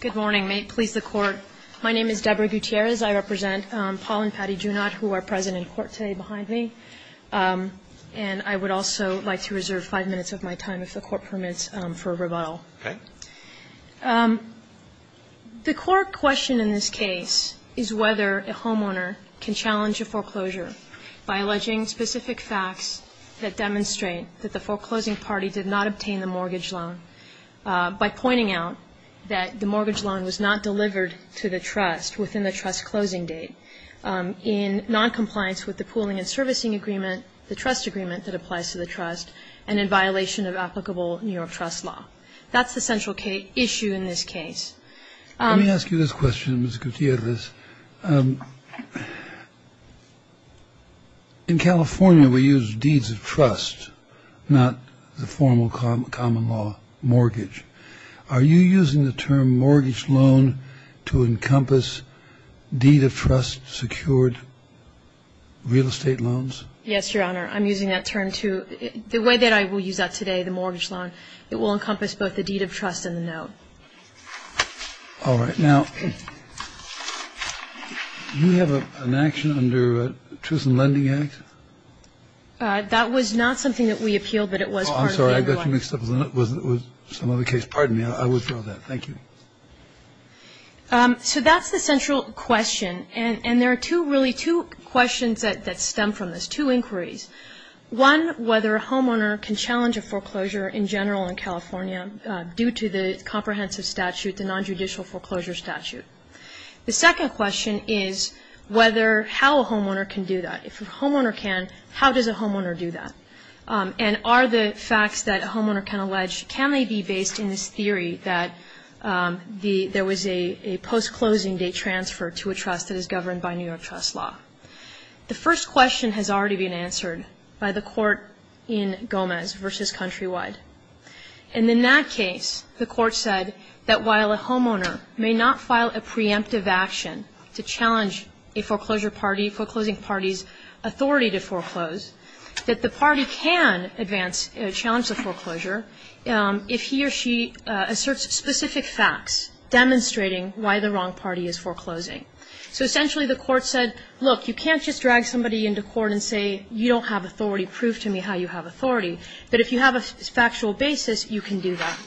Good morning. My name is Deborah Gutierrez. I represent Paul and Patty Junod, who are present in court today behind me. And I would also like to reserve five minutes of my time, if the Court permits, for a rebuttal. Okay. The core question in this case is whether a homeowner can challenge a foreclosure by alleging specific facts that demonstrate that the foreclosing party did not obtain the mortgage loan, by pointing out that the mortgage loan was not delivered to the trust within the trust's closing date, in noncompliance with the pooling and servicing agreement, the trust agreement that applies to the trust, and in violation of applicable New York trust law. That's the central issue in this case. Let me ask you this question, Ms. Gutierrez. In California, we use deeds of trust, not the formal common law mortgage. Are you using the term mortgage loan to encompass deed of trust secured real estate loans? Yes, Your Honor. I'm using that term to – the way that I will use that today, the mortgage loan, it will encompass both the deed of trust and the note. All right. Now, do we have an action under Truth in Lending Act? That was not something that we appealed, but it was part of the – Oh, I'm sorry. I got you mixed up. It was some other case. Pardon me. I withdraw that. Thank you. So that's the central question. And there are two – really two questions that stem from this, two inquiries. One, whether a homeowner can challenge a foreclosure in general in California due to the comprehensive statute, the nonjudicial foreclosure statute. The second question is whether – how a homeowner can do that. If a homeowner can, how does a homeowner do that? And are the facts that a homeowner can allege, can they be based in this theory that there was a post-closing date transfer to a trust that is governed by New York trust law? The first question has already been answered by the court in Gomez v. Countrywide. And in that case, the court said that while a homeowner may not file a preemptive action to challenge a foreclosure party, foreclosing party's authority to foreclose, that the party can advance a challenge to foreclosure if he or she asserts specific facts demonstrating why the wrong party is foreclosing. So essentially the court said, look, you can't just drag somebody into court and say you don't have authority, prove to me how you have authority. But if you have a factual basis, you can do that.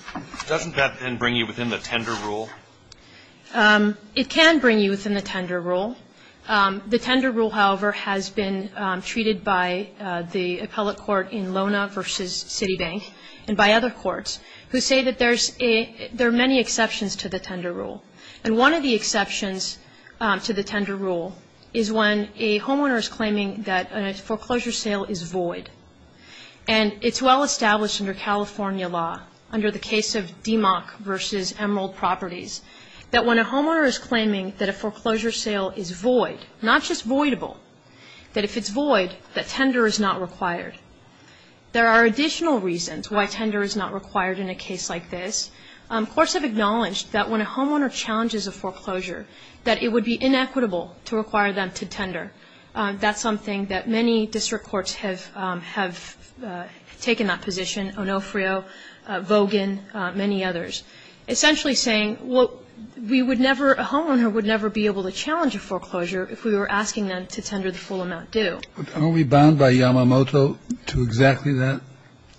Doesn't that then bring you within the tender rule? It can bring you within the tender rule. The tender rule, however, has been treated by the appellate court in Lona v. Citibank and by other courts who say that there are many exceptions to the tender rule. And one of the exceptions to the tender rule is when a homeowner is claiming that a foreclosure sale is void. And it's well-established under California law, under the case of Demock v. Emerald Properties, that when a homeowner is claiming that a foreclosure sale is void, not just voidable, that if it's void, that tender is not required. There are additional reasons why tender is not required in a case like this. Courts have acknowledged that when a homeowner challenges a foreclosure, that it would be inequitable to require them to tender. That's something that many district courts have taken that position, Onofrio, Vogan, many others, essentially saying, well, we would never, a homeowner would never be able to challenge a foreclosure if we were asking them to tender the full amount due. Are we bound by Yamamoto to exactly that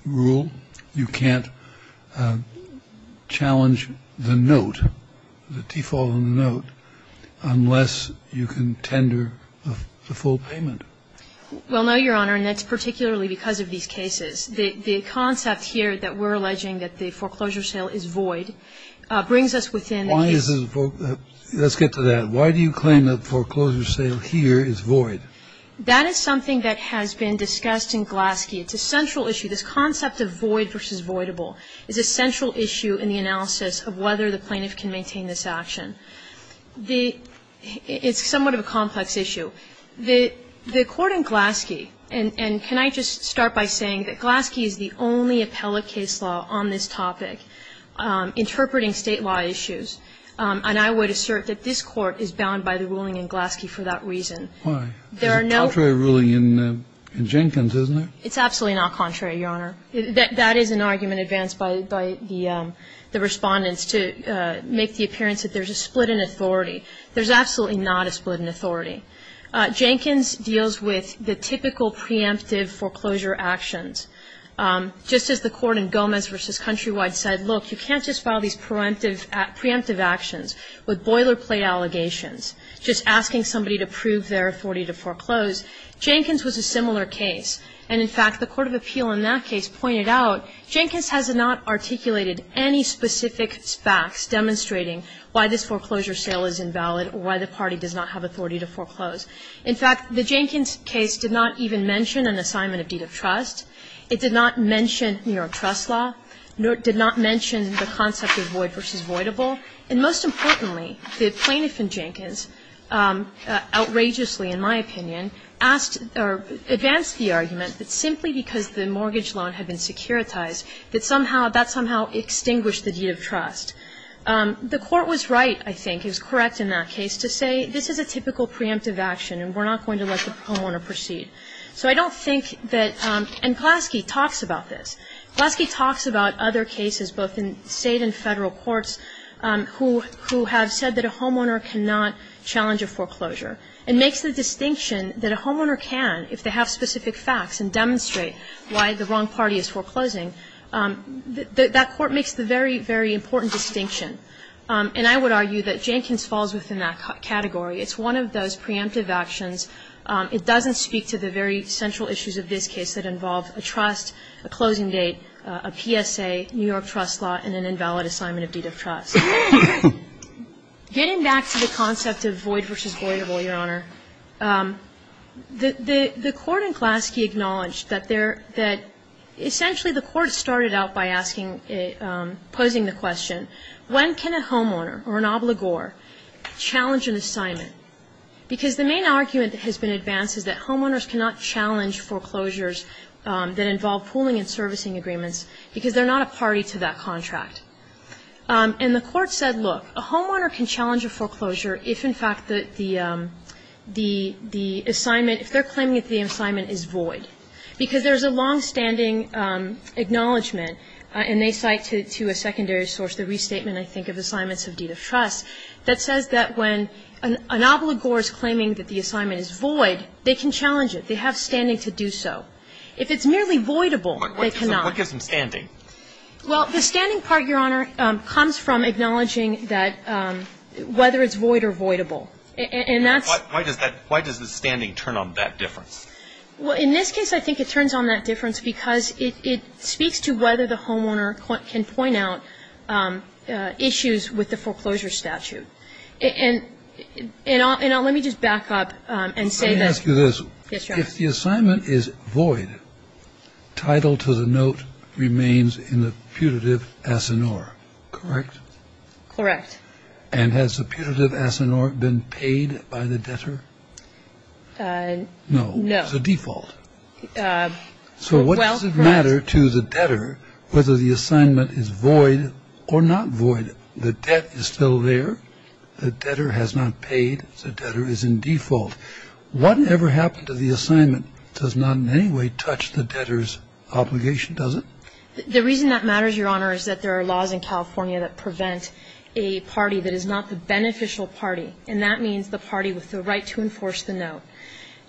rule? You can't challenge the note, the default on the note, unless you can tender the full payment. Well, no, Your Honor, and that's particularly because of these cases. The concept here that we're alleging that the foreclosure sale is void brings us within the case. Why is it void? Let's get to that. Why do you claim that foreclosure sale here is void? That is something that has been discussed in Glaske. It's a central issue. This concept of void versus voidable is a central issue in the analysis of whether the plaintiff can maintain this action. It's somewhat of a complex issue. The Court in Glaske, and can I just start by saying that Glaske is the only appellate case law on this topic interpreting State law issues, and I would assert that this Court is bound by the ruling in Glaske for that reason. Why? There are no other ruling in Jenkins, isn't there? It's absolutely not contrary, Your Honor. That is an argument advanced by the Respondents to make the appearance that there's a split in authority. There's absolutely not a split in authority. Jenkins deals with the typical preemptive foreclosure actions. Just as the Court in Gomez v. Countrywide said, look, you can't just file these preemptive actions with boilerplate allegations, just asking somebody to prove their authority to foreclose. Jenkins was a similar case. And in fact, the court of appeal in that case pointed out Jenkins has not articulated any specific facts demonstrating why this foreclosure sale is invalid or why the party does not have authority to foreclose. In fact, the Jenkins case did not even mention an assignment of deed of trust. It did not mention New York trust law. It did not mention the concept of void v. voidable. And most importantly, the plaintiff in Jenkins outrageously, in my opinion, asked or advanced the argument that simply because the mortgage loan had been securitized that somehow that somehow extinguished the deed of trust. The court was right, I think, is correct in that case, to say this is a typical preemptive action and we're not going to let the homeowner proceed. So I don't think that – and Glaske talks about this. Glaske talks about other cases both in State and Federal courts who have said that a homeowner cannot challenge a foreclosure. It makes the distinction that a homeowner can if they have specific facts and demonstrate why the wrong party is foreclosing. That court makes the very, very important distinction. And I would argue that Jenkins falls within that category. It's one of those preemptive actions. It doesn't speak to the very central issues of this case that involve a trust, a closing date, a PSA, New York trust law, and an invalid assignment of deed of trust. Getting back to the concept of void versus voidable, Your Honor, the court in Glaske acknowledged that there – that essentially the court started out by asking – posing the question, when can a homeowner or an obligor challenge an assignment? Because the main argument that has been advanced is that homeowners cannot challenge foreclosures that involve pooling and servicing agreements because they're not a party to that contract. And the court said, look, a homeowner can challenge a foreclosure if, in fact, the assignment – if they're claiming that the assignment is void, because there is a longstanding acknowledgment, and they cite to a secondary source the restatement, I think, of assignments of deed of trust, that says that when an obligor is claiming that the assignment is void, they can challenge it. They have standing to do so. If it's merely voidable, they cannot. What gives them standing? Well, the standing part, Your Honor, comes from acknowledging that whether it's void or voidable. And that's – Why does that – why does the standing turn on that difference? Well, in this case, I think it turns on that difference because it speaks to whether the homeowner can point out issues with the foreclosure statute. And I'll – and let me just back up and say that – Let me ask you this. Yes, Your Honor. If the assignment is void, title to the note remains in the putative asinor, correct? Correct. And has the putative asinor been paid by the debtor? No. It's a default. So what does it matter to the debtor whether the assignment is void or not void? The debt is still there. The debtor has not paid. The debtor is in default. What ever happened to the assignment does not in any way touch the debtor's obligation, does it? The reason that matters, Your Honor, is that there are laws in California that prevent a party that is not the beneficial party. And that means the party with the right to enforce the note.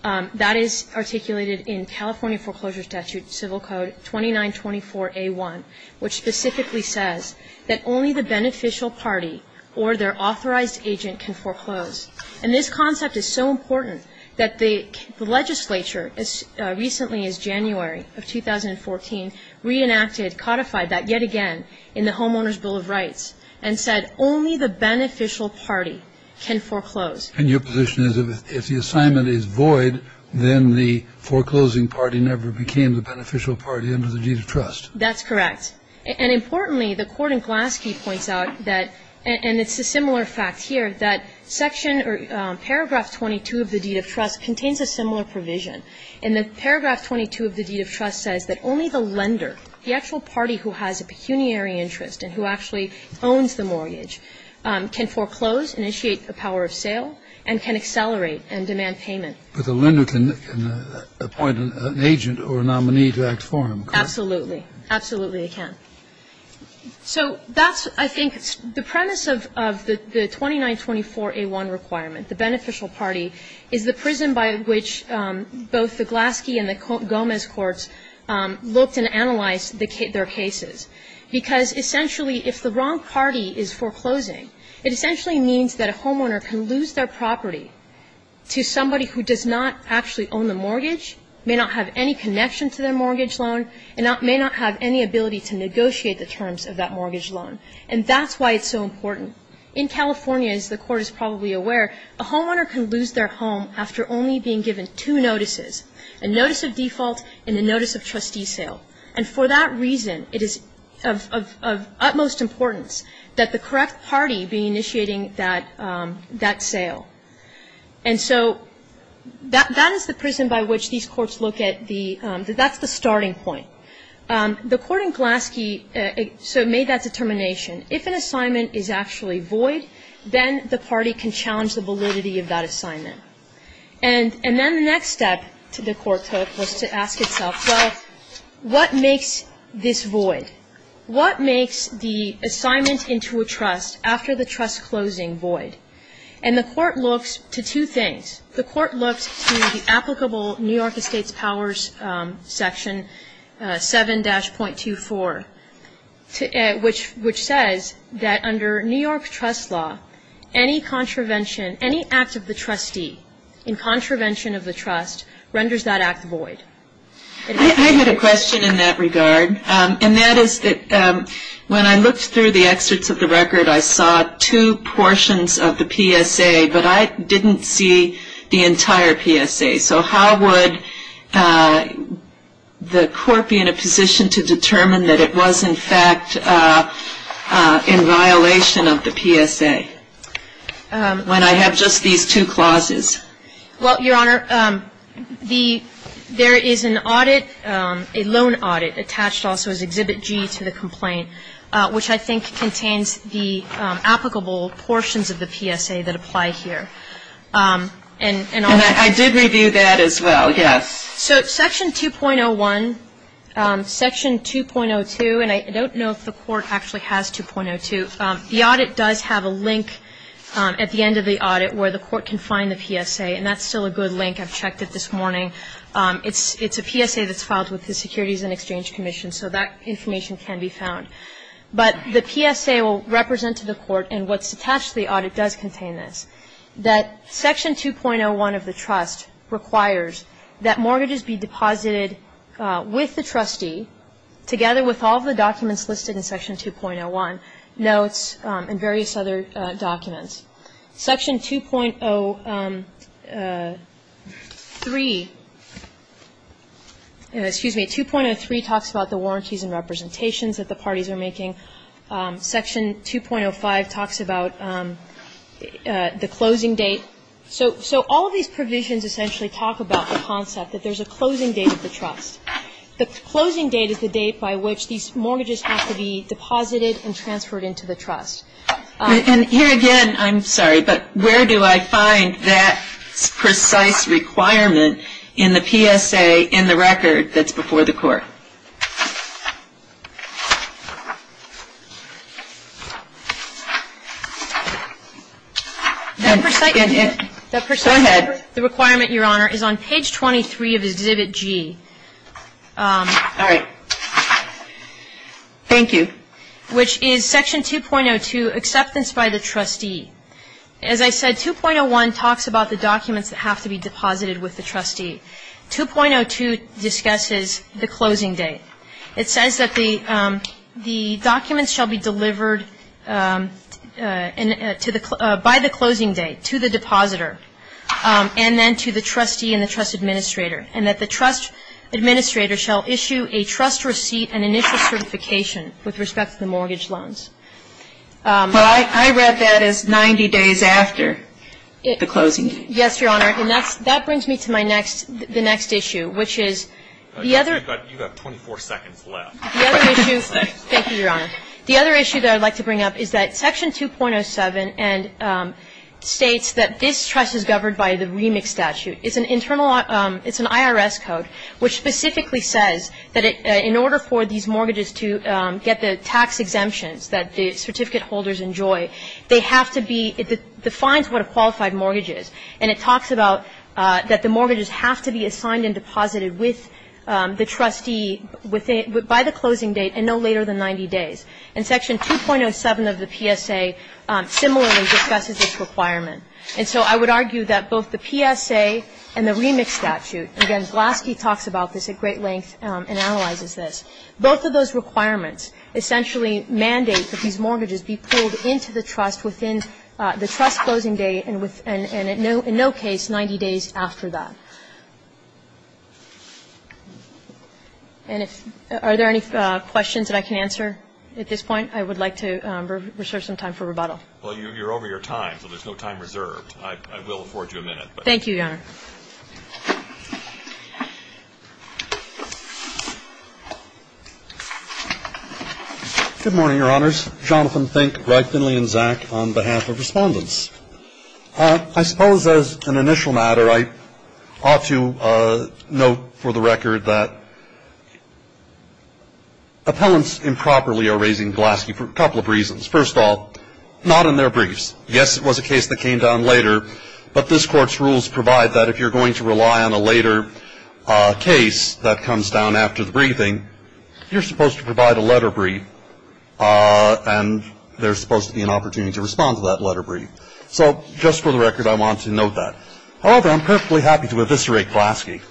That is articulated in California Foreclosure Statute, Civil Code 2924A1, which specifically says that only the beneficial party or their authorized agent can foreclose. And this concept is so important that the legislature, as recently as January of 2014, reenacted, codified that yet again in the Homeowner's Bill of Rights, and said only the beneficial party can foreclose. And your position is if the assignment is void, then the foreclosing party never became the beneficial party under the deed of trust. That's correct. And importantly, the court in Glaske points out that, and it's a similar fact here, that section or paragraph 22 of the deed of trust contains a similar provision. And paragraph 22 of the deed of trust says that only the lender, the actual party who has a pecuniary interest and who actually owns the mortgage, can foreclose, initiate the power of sale, and can accelerate and demand payment. But the lender can appoint an agent or a nominee to act for him, correct? Absolutely. Absolutely they can. So that's, I think, the premise of the 2924A1 requirement, the beneficial party, is the prism by which both the Glaske and the Gomez courts looked and analyzed their cases, because essentially if the wrong party is foreclosing, it essentially means that a homeowner can lose their property to somebody who does not actually own the mortgage, may not have any connection to their mortgage loan, and may not have any ability to negotiate the terms of that mortgage loan. And that's why it's so important. In California, as the Court is probably aware, a homeowner can lose their home after only being given two notices, a notice of default and a notice of trustee sale. And for that reason, it is of utmost importance that the correct party be initiating that sale. And so that is the prism by which these courts look at the, that's the starting point. The court in Glaske, so it made that determination, if an assignment is actually void, then the party can challenge the validity of that assignment. And then the next step the court took was to ask itself, well, what makes this void? What makes the assignment into a trust after the trust closing void? And the court looks to two things. The court looks to the applicable New York Estates Powers Section 7-.24, which says that under New York trust law, any contravention, any act of the trustee in contravention of the trust renders that act void. I had a question in that regard. And that is that when I looked through the excerpts of the record, I saw two portions of the PSA, but I didn't see the entire PSA. So how would the court be in a position to determine that it was in fact in violation of the PSA when I have just these two clauses? Well, Your Honor, the, there is an audit, a loan audit attached also as Exhibit G to the complaint, which I think contains the applicable portions of the PSA that apply here. And I did review that as well, yes. So Section 2.01, Section 2.02, and I don't know if the court actually has 2.02. The audit does have a link at the end of the audit where the court can find the PSA, and that's still a good link. I've checked it this morning. It's a PSA that's filed with the Securities and Exchange Commission. So that information can be found. But the PSA will represent to the court, and what's attached to the audit does contain this, that Section 2.01 of the trust requires that mortgages be deposited with the trustee together with all the documents listed in Section 2.01, notes and various other documents. Section 2.03, excuse me, 2.03 talks about the warranties and representations that the parties are making. Section 2.05 talks about the closing date. So all of these provisions essentially talk about the concept that there's a closing date of the trust. The closing date is the date by which these mortgages have to be deposited and transferred into the trust. And here again, I'm sorry, but where do I find that precise requirement in the PSA in the record that's before the court? Go ahead. The requirement, Your Honor, is on page 23 of Exhibit G. All right. Thank you. All right. So Section 2.01, which is Section 2.02, acceptance by the trustee. As I said, 2.01 talks about the documents that have to be deposited with the trustee. 2.02 discusses the closing date. It says that the documents shall be delivered by the closing date to the depositor and then to the trustee and the trust administrator, and that the trust administrator shall issue a trust receipt and initial certification with respect to the mortgage loans. Well, I read that as 90 days after the closing date. Yes, Your Honor. And that brings me to my next, the next issue, which is the other. You've got 24 seconds left. Thank you, Your Honor. The other issue that I'd like to bring up is that Section 2.07 states that this trust is governed by the remix statute. It's an internal, it's an IRS code which specifically says that in order for these mortgages to get the tax exemptions that the certificate holders enjoy, they have to be, it defines what a qualified mortgage is. And it talks about that the mortgages have to be assigned and deposited with the trustee by the closing date and no later than 90 days. And Section 2.07 of the PSA similarly discusses this requirement. And so I would argue that both the PSA and the remix statute, again, Glaske talks about this at great length and analyzes this, both of those requirements essentially mandate that these mortgages be pulled into the trust within the trust closing date and in no case 90 days after that. And if, are there any questions that I can answer at this point? I would like to reserve some time for rebuttal. Well, you're over your time, so there's no time reserved. I will afford you a minute. Thank you, Your Honor. Good morning, Your Honors. Jonathan Fink, Greg Finley, and Zach on behalf of Respondents. I suppose as an initial matter, I ought to note for the record that appellants improperly are raising Glaske for a couple of reasons. First of all, not in their briefs. Yes, it was a case that came down later, but this court's rules provide that if you're going to rely on a later case that comes down after the briefing, you're supposed to provide a letter brief and there's supposed to be an opportunity to respond to that letter brief. So just for the record, I want to note that. However, I'm perfectly happy to eviscerate Glaske.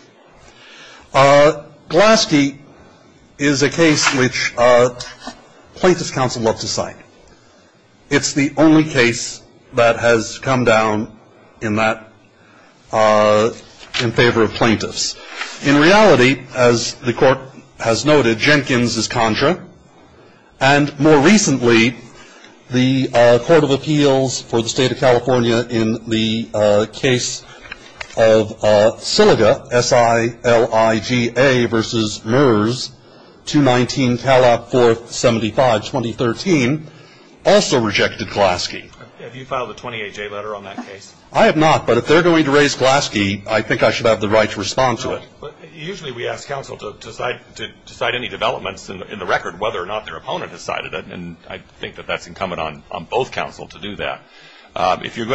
Glaske is a case which plaintiff's counsel loves to cite. It's the only case that has come down in that in favor of plaintiffs. In reality, as the court has noted, Jenkins is contra, and more recently, the Court of Appeals for the State of California in the case of Syliga, S-I-L-I-G-A versus MERS, 219 Calop 475, 2013, also rejected Glaske. Have you filed a 28-J letter on that case? I have not, but if they're going to raise Glaske, I think I should have the right to respond to it. Usually we ask counsel to cite any developments in the record, whether or not their opponent has cited it. And I think that that's incumbent on both counsel to do that. If you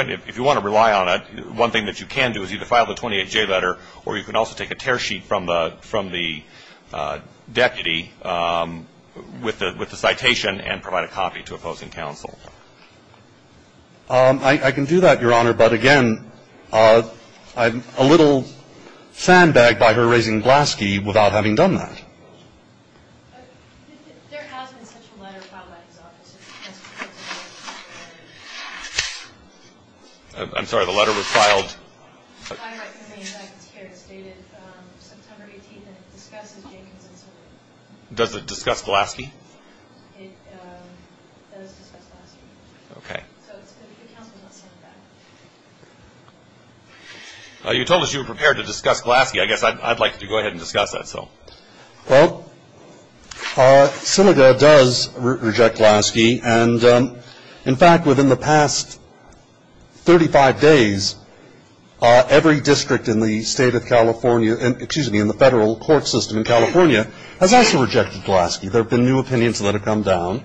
want to rely on it, one thing that you can do is either file the 28-J letter or you can also take a tear sheet from the deputy with the citation and provide a copy to opposing counsel. I can do that, Your Honor, but, again, I'm a little sandbagged by her raising Glaske without having done that. There has been such a letter filed at his office. I'm sorry, the letter was filed? It's here. It's dated September 18th, and it discusses Jenkins and Syliga. Does it discuss Glaske? It does discuss Glaske. Okay. So it's good that the counsel is not saying that. You told us you were prepared to discuss Glaske. I guess I'd like to go ahead and discuss that. Well, Syliga does reject Glaske. And, in fact, within the past 35 days, every district in the state of California, excuse me, in the federal court system in California has also rejected Glaske. There have been new opinions that have come down.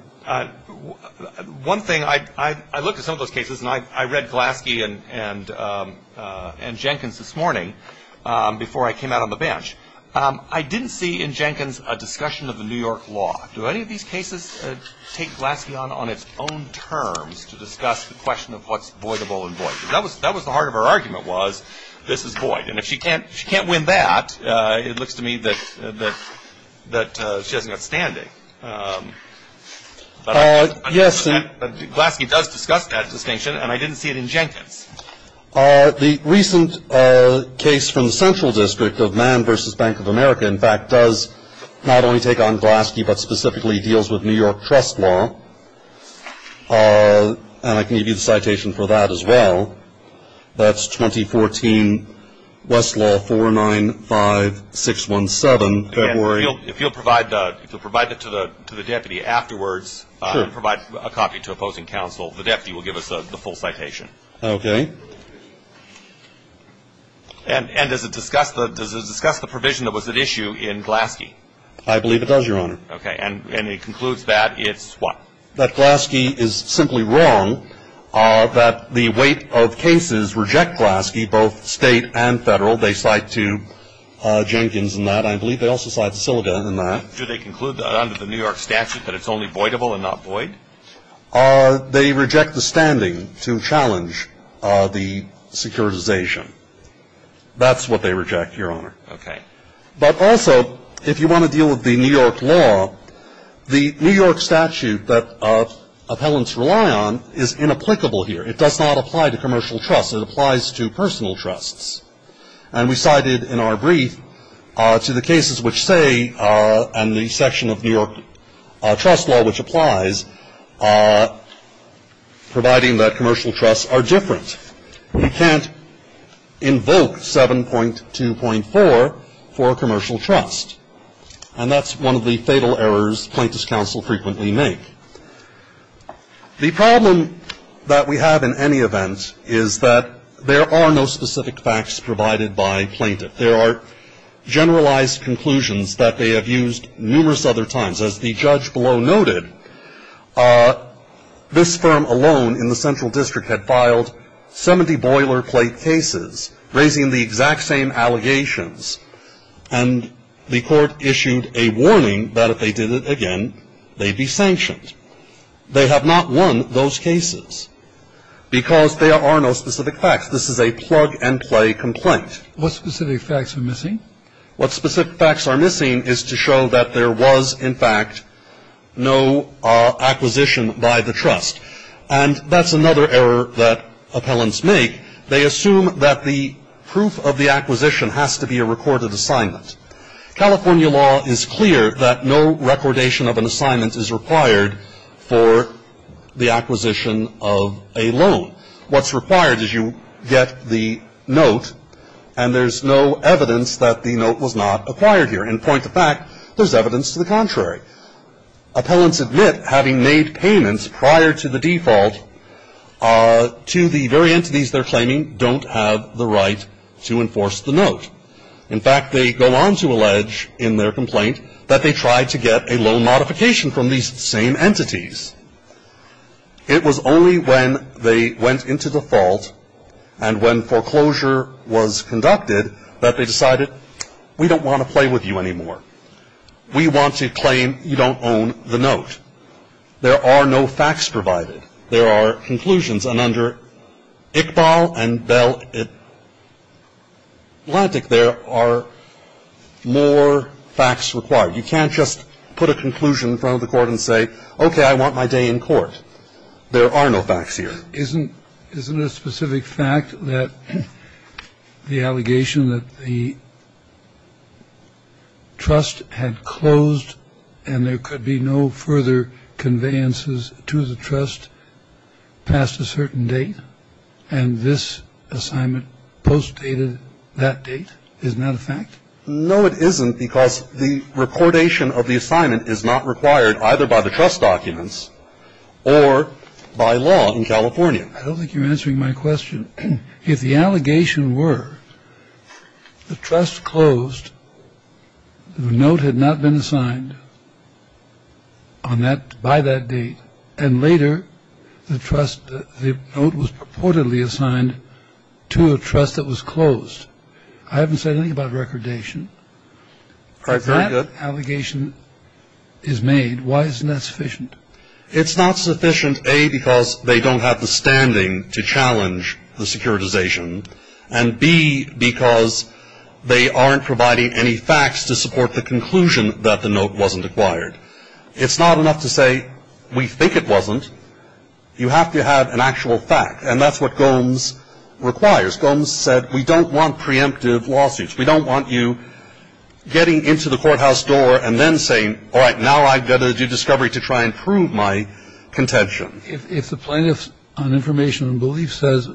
One thing, I looked at some of those cases, and I read Glaske and Jenkins this morning before I came out on the bench. I didn't see in Jenkins a discussion of the New York law. Do any of these cases take Glaske on its own terms to discuss the question of what's voidable and void? That was the heart of her argument was this is void, and if she can't win that, it looks to me that she hasn't got standing. But Glaske does discuss that distinction, and I didn't see it in Jenkins. The recent case from the Central District of Mann v. Bank of America, in fact, does not only take on Glaske but specifically deals with New York trust law. And I can give you the citation for that as well. That's 2014 Westlaw 495617. If you'll provide it to the deputy afterwards and provide a copy to opposing counsel, the deputy will give us the full citation. Okay. And does it discuss the provision that was at issue in Glaske? I believe it does, Your Honor. Okay. And it concludes that it's what? That Glaske is simply wrong, that the weight of cases reject Glaske, both state and federal. They cite to Jenkins in that. I believe they also cite to Sylida in that. Do they conclude under the New York statute that it's only voidable and not void? They reject the standing to challenge the securitization. That's what they reject, Your Honor. Okay. But also, if you want to deal with the New York law, the New York statute that appellants rely on is inapplicable here. It does not apply to commercial trusts. It applies to personal trusts. And we cited in our brief to the cases which say, and the section of New York trust law which applies, providing that commercial trusts are different. We can't invoke 7.2.4 for a commercial trust. And that's one of the fatal errors plaintiff's counsel frequently make. The problem that we have in any event is that there are no specific facts provided by plaintiff. There are generalized conclusions that they have used numerous other times. As the judge below noted, this firm alone in the central district had filed 70 boilerplate cases, raising the exact same allegations. And the court issued a warning that if they did it again, they'd be sanctioned. They have not won those cases because there are no specific facts. This is a plug-and-play complaint. What specific facts are missing? What specific facts are missing is to show that there was, in fact, no acquisition by the trust. And that's another error that appellants make. They assume that the proof of the acquisition has to be a recorded assignment. California law is clear that no recordation of an assignment is required for the acquisition of a loan. What's required is you get the note, and there's no evidence that the note was not acquired here. In point of fact, there's evidence to the contrary. Appellants admit having made payments prior to the default to the very entities they're claiming don't have the right to enforce the note. In fact, they go on to allege in their complaint that they tried to get a loan modification from these same entities. It was only when they went into default and when foreclosure was conducted that they decided, we don't want to play with you anymore. We want to claim you don't own the note. There are no facts provided. There are conclusions. And under Iqbal and Bell Atlantic, there are more facts required. You can't just put a conclusion in front of the court and say, okay, I want my day in court. There are no facts here. Is it a specific fact that the allegation that the trust had closed and there could be no further conveyances to the trust passed a certain date, and this assignment postdated that date? No, it isn't, because the reportation of the assignment is not required either by the trust documents or by law in California. I don't think you're answering my question. If the allegation were the trust closed, the note had not been assigned on that by that date, and later the trust, the note was purportedly assigned to a trust that was closed. I haven't said anything about recordation. If that allegation is made, why isn't that sufficient? It's not sufficient, A, because they don't have the standing to challenge the securitization, and, B, because they aren't providing any facts to support the conclusion that the note wasn't acquired. It's not enough to say we think it wasn't. You have to have an actual fact, and that's what Gomes requires. Gomes said we don't want preemptive lawsuits. We don't want you getting into the courthouse door and then saying, all right, now I've got to do discovery to try and prove my contention. If the plaintiff's on information and belief says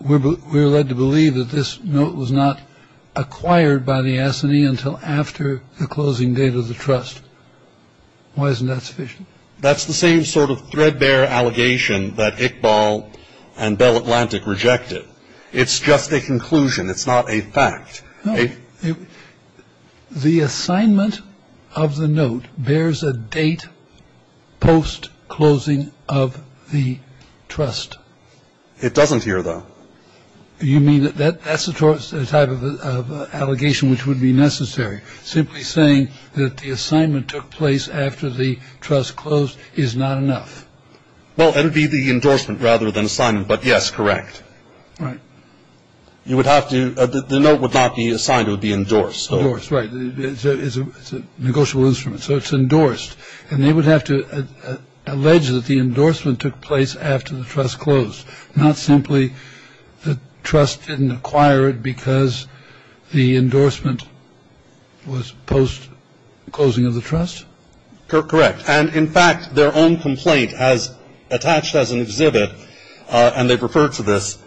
we're led to believe that this note was not acquired by the S&E until after the closing date of the trust, why isn't that sufficient? That's the same sort of threadbare allegation that Iqbal and Bell Atlantic rejected. It's just a conclusion. It's not a fact. No. The assignment of the note bears a date post-closing of the trust. It doesn't here, though. You mean that that's the type of allegation which would be necessary? Simply saying that the assignment took place after the trust closed is not enough. Well, that would be the endorsement rather than assignment, but yes, correct. Right. You would have to – the note would not be assigned, it would be endorsed. Endorsed, right. It's a negotiable instrument, so it's endorsed. And they would have to allege that the endorsement took place after the trust closed, not simply the trust didn't acquire it because the endorsement was post-closing of the trust? Correct. And, in fact, their own complaint has attached as an exhibit, and they've referred to this,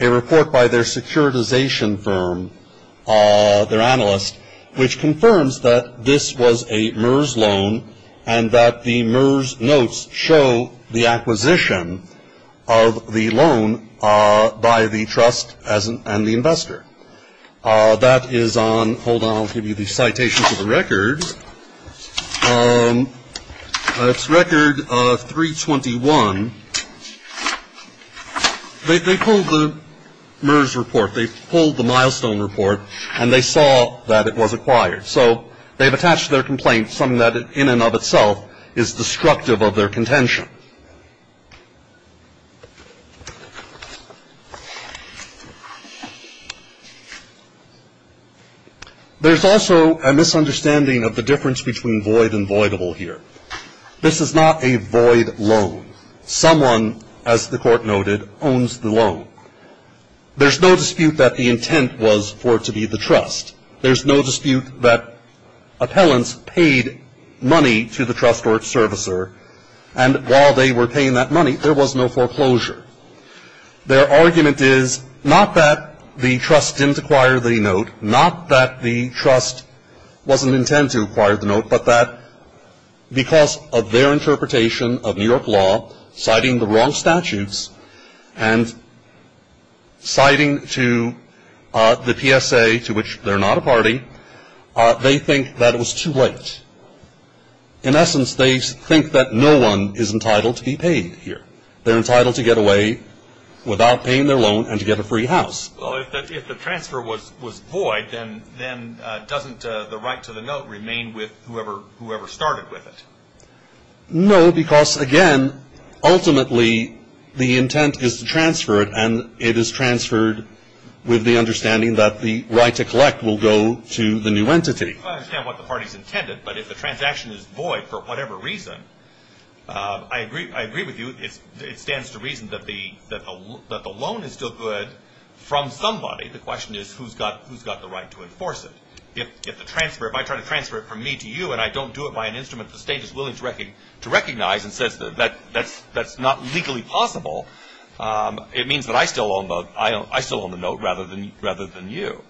a report by their securitization firm, their analyst, which confirms that this was a MERS loan and that the MERS notes show the acquisition of the loan by the trust and the investor. That is on – hold on, I'll give you the citations of the records. It's record 321. They pulled the MERS report. They pulled the milestone report, and they saw that it was acquired. So they've attached their complaint, something that in and of itself is destructive of their contention. There's also a misunderstanding of the difference between void and voidable here. This is not a void loan. Someone, as the court noted, owns the loan. There's no dispute that the intent was for it to be the trust. There's no dispute that appellants paid money to the trust or its servicer, and while they were paying that money, there was no foreclosure. Their argument is not that the trust didn't acquire the note, not that the trust wasn't intent to acquire the note, but that because of their interpretation of New York law, citing the wrong statutes and citing to the PSA, to which they're not a party, they think that it was too late. In essence, they think that no one is entitled to be paid here. They're entitled to get away without paying their loan and to get a free house. Well, if the transfer was void, then doesn't the right to the note remain with whoever started with it? No, because, again, ultimately the intent is to transfer it, and it is transferred with the understanding that the right to collect will go to the new entity. I understand what the party's intended, but if the transaction is void for whatever reason, I agree with you. It stands to reason that the loan is still good from somebody. The question is who's got the right to enforce it. If the transfer, if I try to transfer it from me to you and I don't do it by an instrument the state is willing to recognize and says that that's not legally possible, it means that I still own the note rather than you.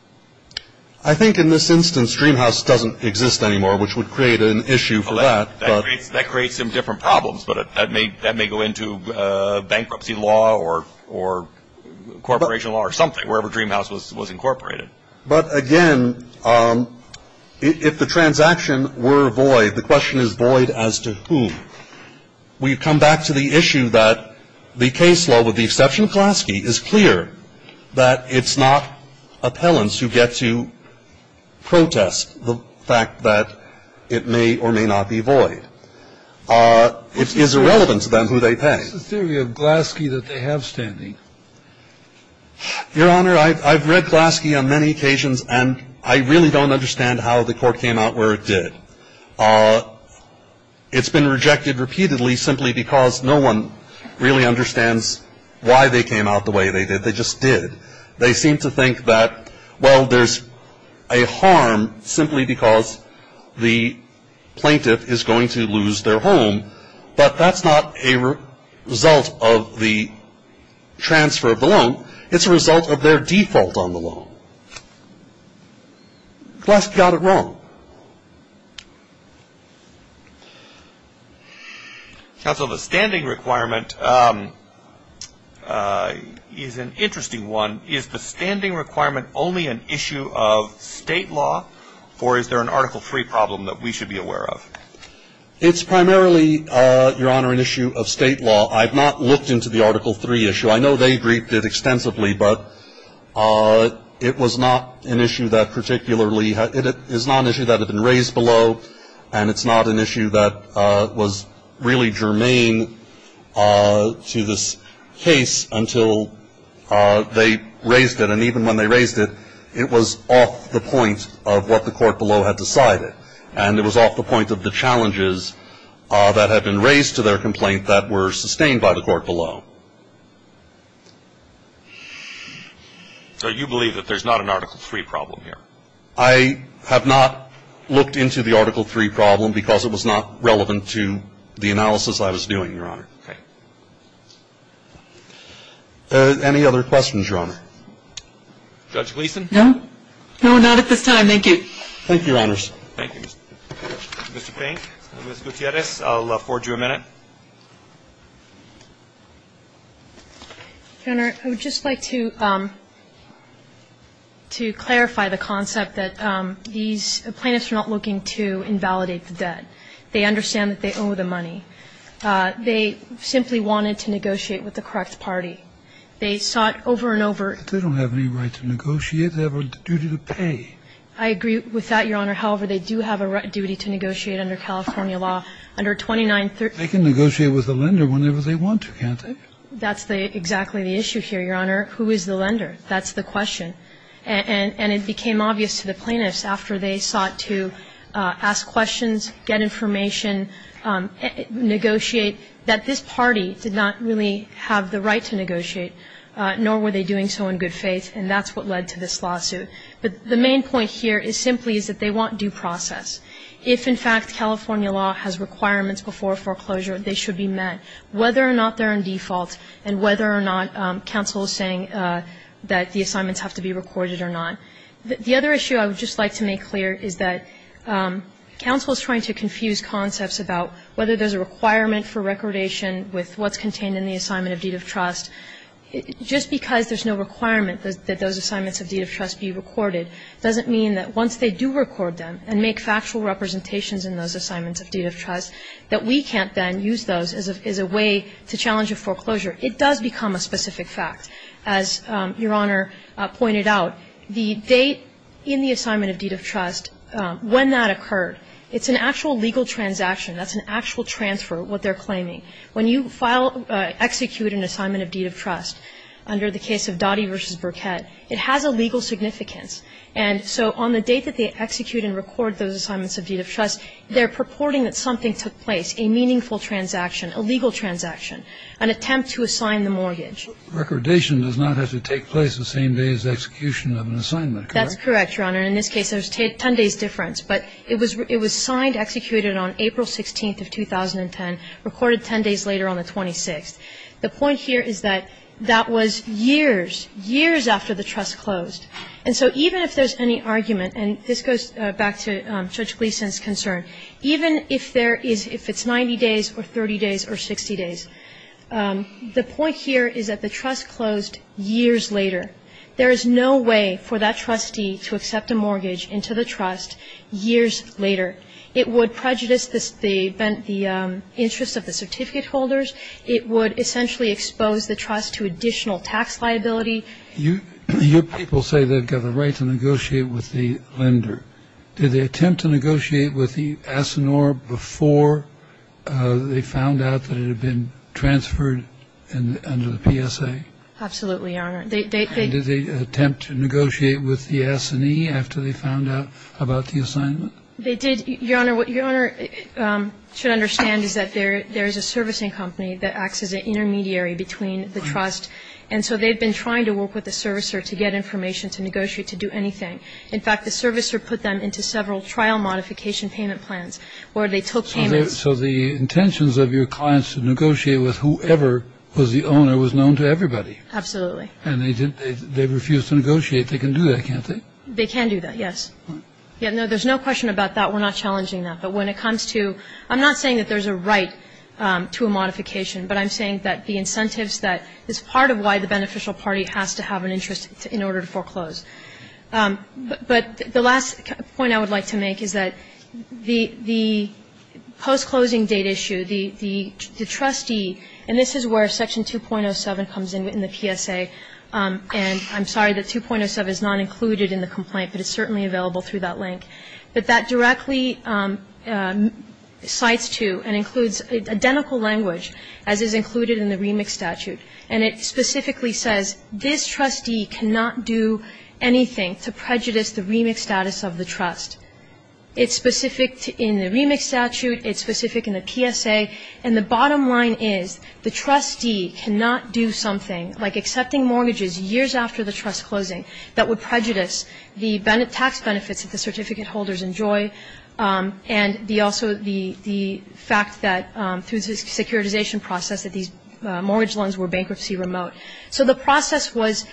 I think in this instance Dreamhouse doesn't exist anymore, which would create an issue for that. That creates some different problems, but that may go into bankruptcy law or corporation law or something, wherever Dreamhouse was incorporated. But, again, if the transaction were void, the question is void as to whom. We come back to the issue that the case law with the exception of Glaske is clear that it's not appellants who get to protest the fact that it may or may not be void. It is irrelevant to them who they pay. What's the theory of Glaske that they have standing? Your Honor, I've read Glaske on many occasions and I really don't understand how the court came out where it did. It's been rejected repeatedly simply because no one really understands why they came out the way they did. They just did. They seem to think that, well, there's a harm simply because the plaintiff is going to lose their home, but that's not a result of the transfer of the loan. It's a result of their default on the loan. Glaske got it wrong. Counsel, the standing requirement is an interesting one. Is the standing requirement only an issue of state law, or is there an Article III problem that we should be aware of? It's primarily, Your Honor, an issue of state law. I've not looked into the Article III issue. I know they briefed it extensively, but it was not an issue that particularly It is not an issue that had been raised below, and it's not an issue that was really germane to this case until they raised it. And even when they raised it, it was off the point of what the court below had decided. And it was off the point of the challenges that had been raised to their complaint that were sustained by the court below. So you believe that there's not an Article III problem here? I have not looked into the Article III problem because it was not relevant to the analysis I was doing, Your Honor. Okay. Any other questions, Your Honor? Judge Gleeson? No. No, not at this time. Thank you. Thank you, Your Honors. Thank you, Mr. Pink. Ms. Gutierrez, I'll forward you a minute. Your Honor, I would just like to clarify the concept that these plaintiffs are not looking to invalidate the debt. They understand that they owe the money. They simply wanted to negotiate with the correct party. They sought over and over. They have a duty to pay. I agree with that, Your Honor. However, they do have a duty to negotiate under California law under 2930. They can negotiate with the lender whenever they want to, can't they? That's exactly the issue here, Your Honor. Who is the lender? That's the question. And it became obvious to the plaintiffs after they sought to ask questions, get information, negotiate, that this party did not really have the right to negotiate, nor were they doing so in good faith. And that's what led to this lawsuit. But the main point here is simply is that they want due process. If, in fact, California law has requirements before a foreclosure, they should be met, whether or not they're in default and whether or not counsel is saying that the assignments have to be recorded or not. The other issue I would just like to make clear is that counsel is trying to confuse concepts about whether there's a requirement for recordation with what's contained in the assignment of deed of trust. Just because there's no requirement that those assignments of deed of trust be recorded doesn't mean that once they do record them and make factual representations in those assignments of deed of trust that we can't then use those as a way to challenge a foreclosure. It does become a specific fact. As Your Honor pointed out, the date in the assignment of deed of trust, when that occurred, it's an actual legal transaction. That's an actual transfer, what they're claiming. When you file, execute an assignment of deed of trust under the case of Dottie v. Burkett, it has a legal significance. And so on the date that they execute and record those assignments of deed of trust, they're purporting that something took place, a meaningful transaction, a legal transaction, an attempt to assign the mortgage. Recordation does not have to take place the same day as execution of an assignment, correct? That's correct, Your Honor. In this case, there's 10 days' difference. But it was signed, executed on April 16th of 2010, recorded 10 days later on the 26th. The point here is that that was years, years after the trust closed. And so even if there's any argument, and this goes back to Judge Gleeson's concern, even if there is, if it's 90 days or 30 days or 60 days, the point here is that the trust closed years later. There is no way for that trustee to accept a mortgage into the trust years later. It would prejudice the interest of the certificate holders. It would essentially expose the trust to additional tax liability. Your people say they've got the right to negotiate with the lender. Did they attempt to negotiate with the ASINOR before they found out that it had been transferred under the PSA? Absolutely, Your Honor. And did they attempt to negotiate with the S&E after they found out about the assignment? They did, Your Honor. What Your Honor should understand is that there is a servicing company that acts as an intermediary between the trust. Right. And so they've been trying to work with the servicer to get information to negotiate, to do anything. In fact, the servicer put them into several trial modification payment plans where they took payments. So the intentions of your clients to negotiate with whoever was the owner was known to everybody. Absolutely. And they refused to negotiate. They can do that, can't they? They can do that, yes. There's no question about that. We're not challenging that. But when it comes to ‑‑ I'm not saying that there's a right to a modification, but I'm saying that the incentives that is part of why the beneficial party has to have an interest in order to foreclose. But the last point I would like to make is that the post-closing date issue, the trustee, and this is where section 2.07 comes in, in the PSA. And I'm sorry that 2.07 is not included in the complaint, but it's certainly available through that link. But that directly cites to and includes identical language as is included in the remix statute. And it specifically says this trustee cannot do anything to prejudice the remix status of the trust. It's specific in the remix statute. It's specific in the PSA. And the bottom line is the trustee cannot do something like accepting mortgages years after the trust closing that would prejudice the tax benefits that the certificate holders enjoy and also the fact that through this securitization process that these mortgage loans were bankruptcy remote. So the process was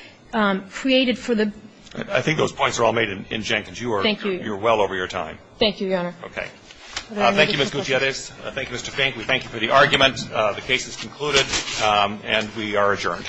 created for the ‑‑ I think those points are all made in Jenkins. You are well over your time. Thank you, Your Honor. Okay. Thank you, Ms. Gutierrez. Thank you, Mr. Fink. We thank you for the argument. The case is concluded and we are adjourned.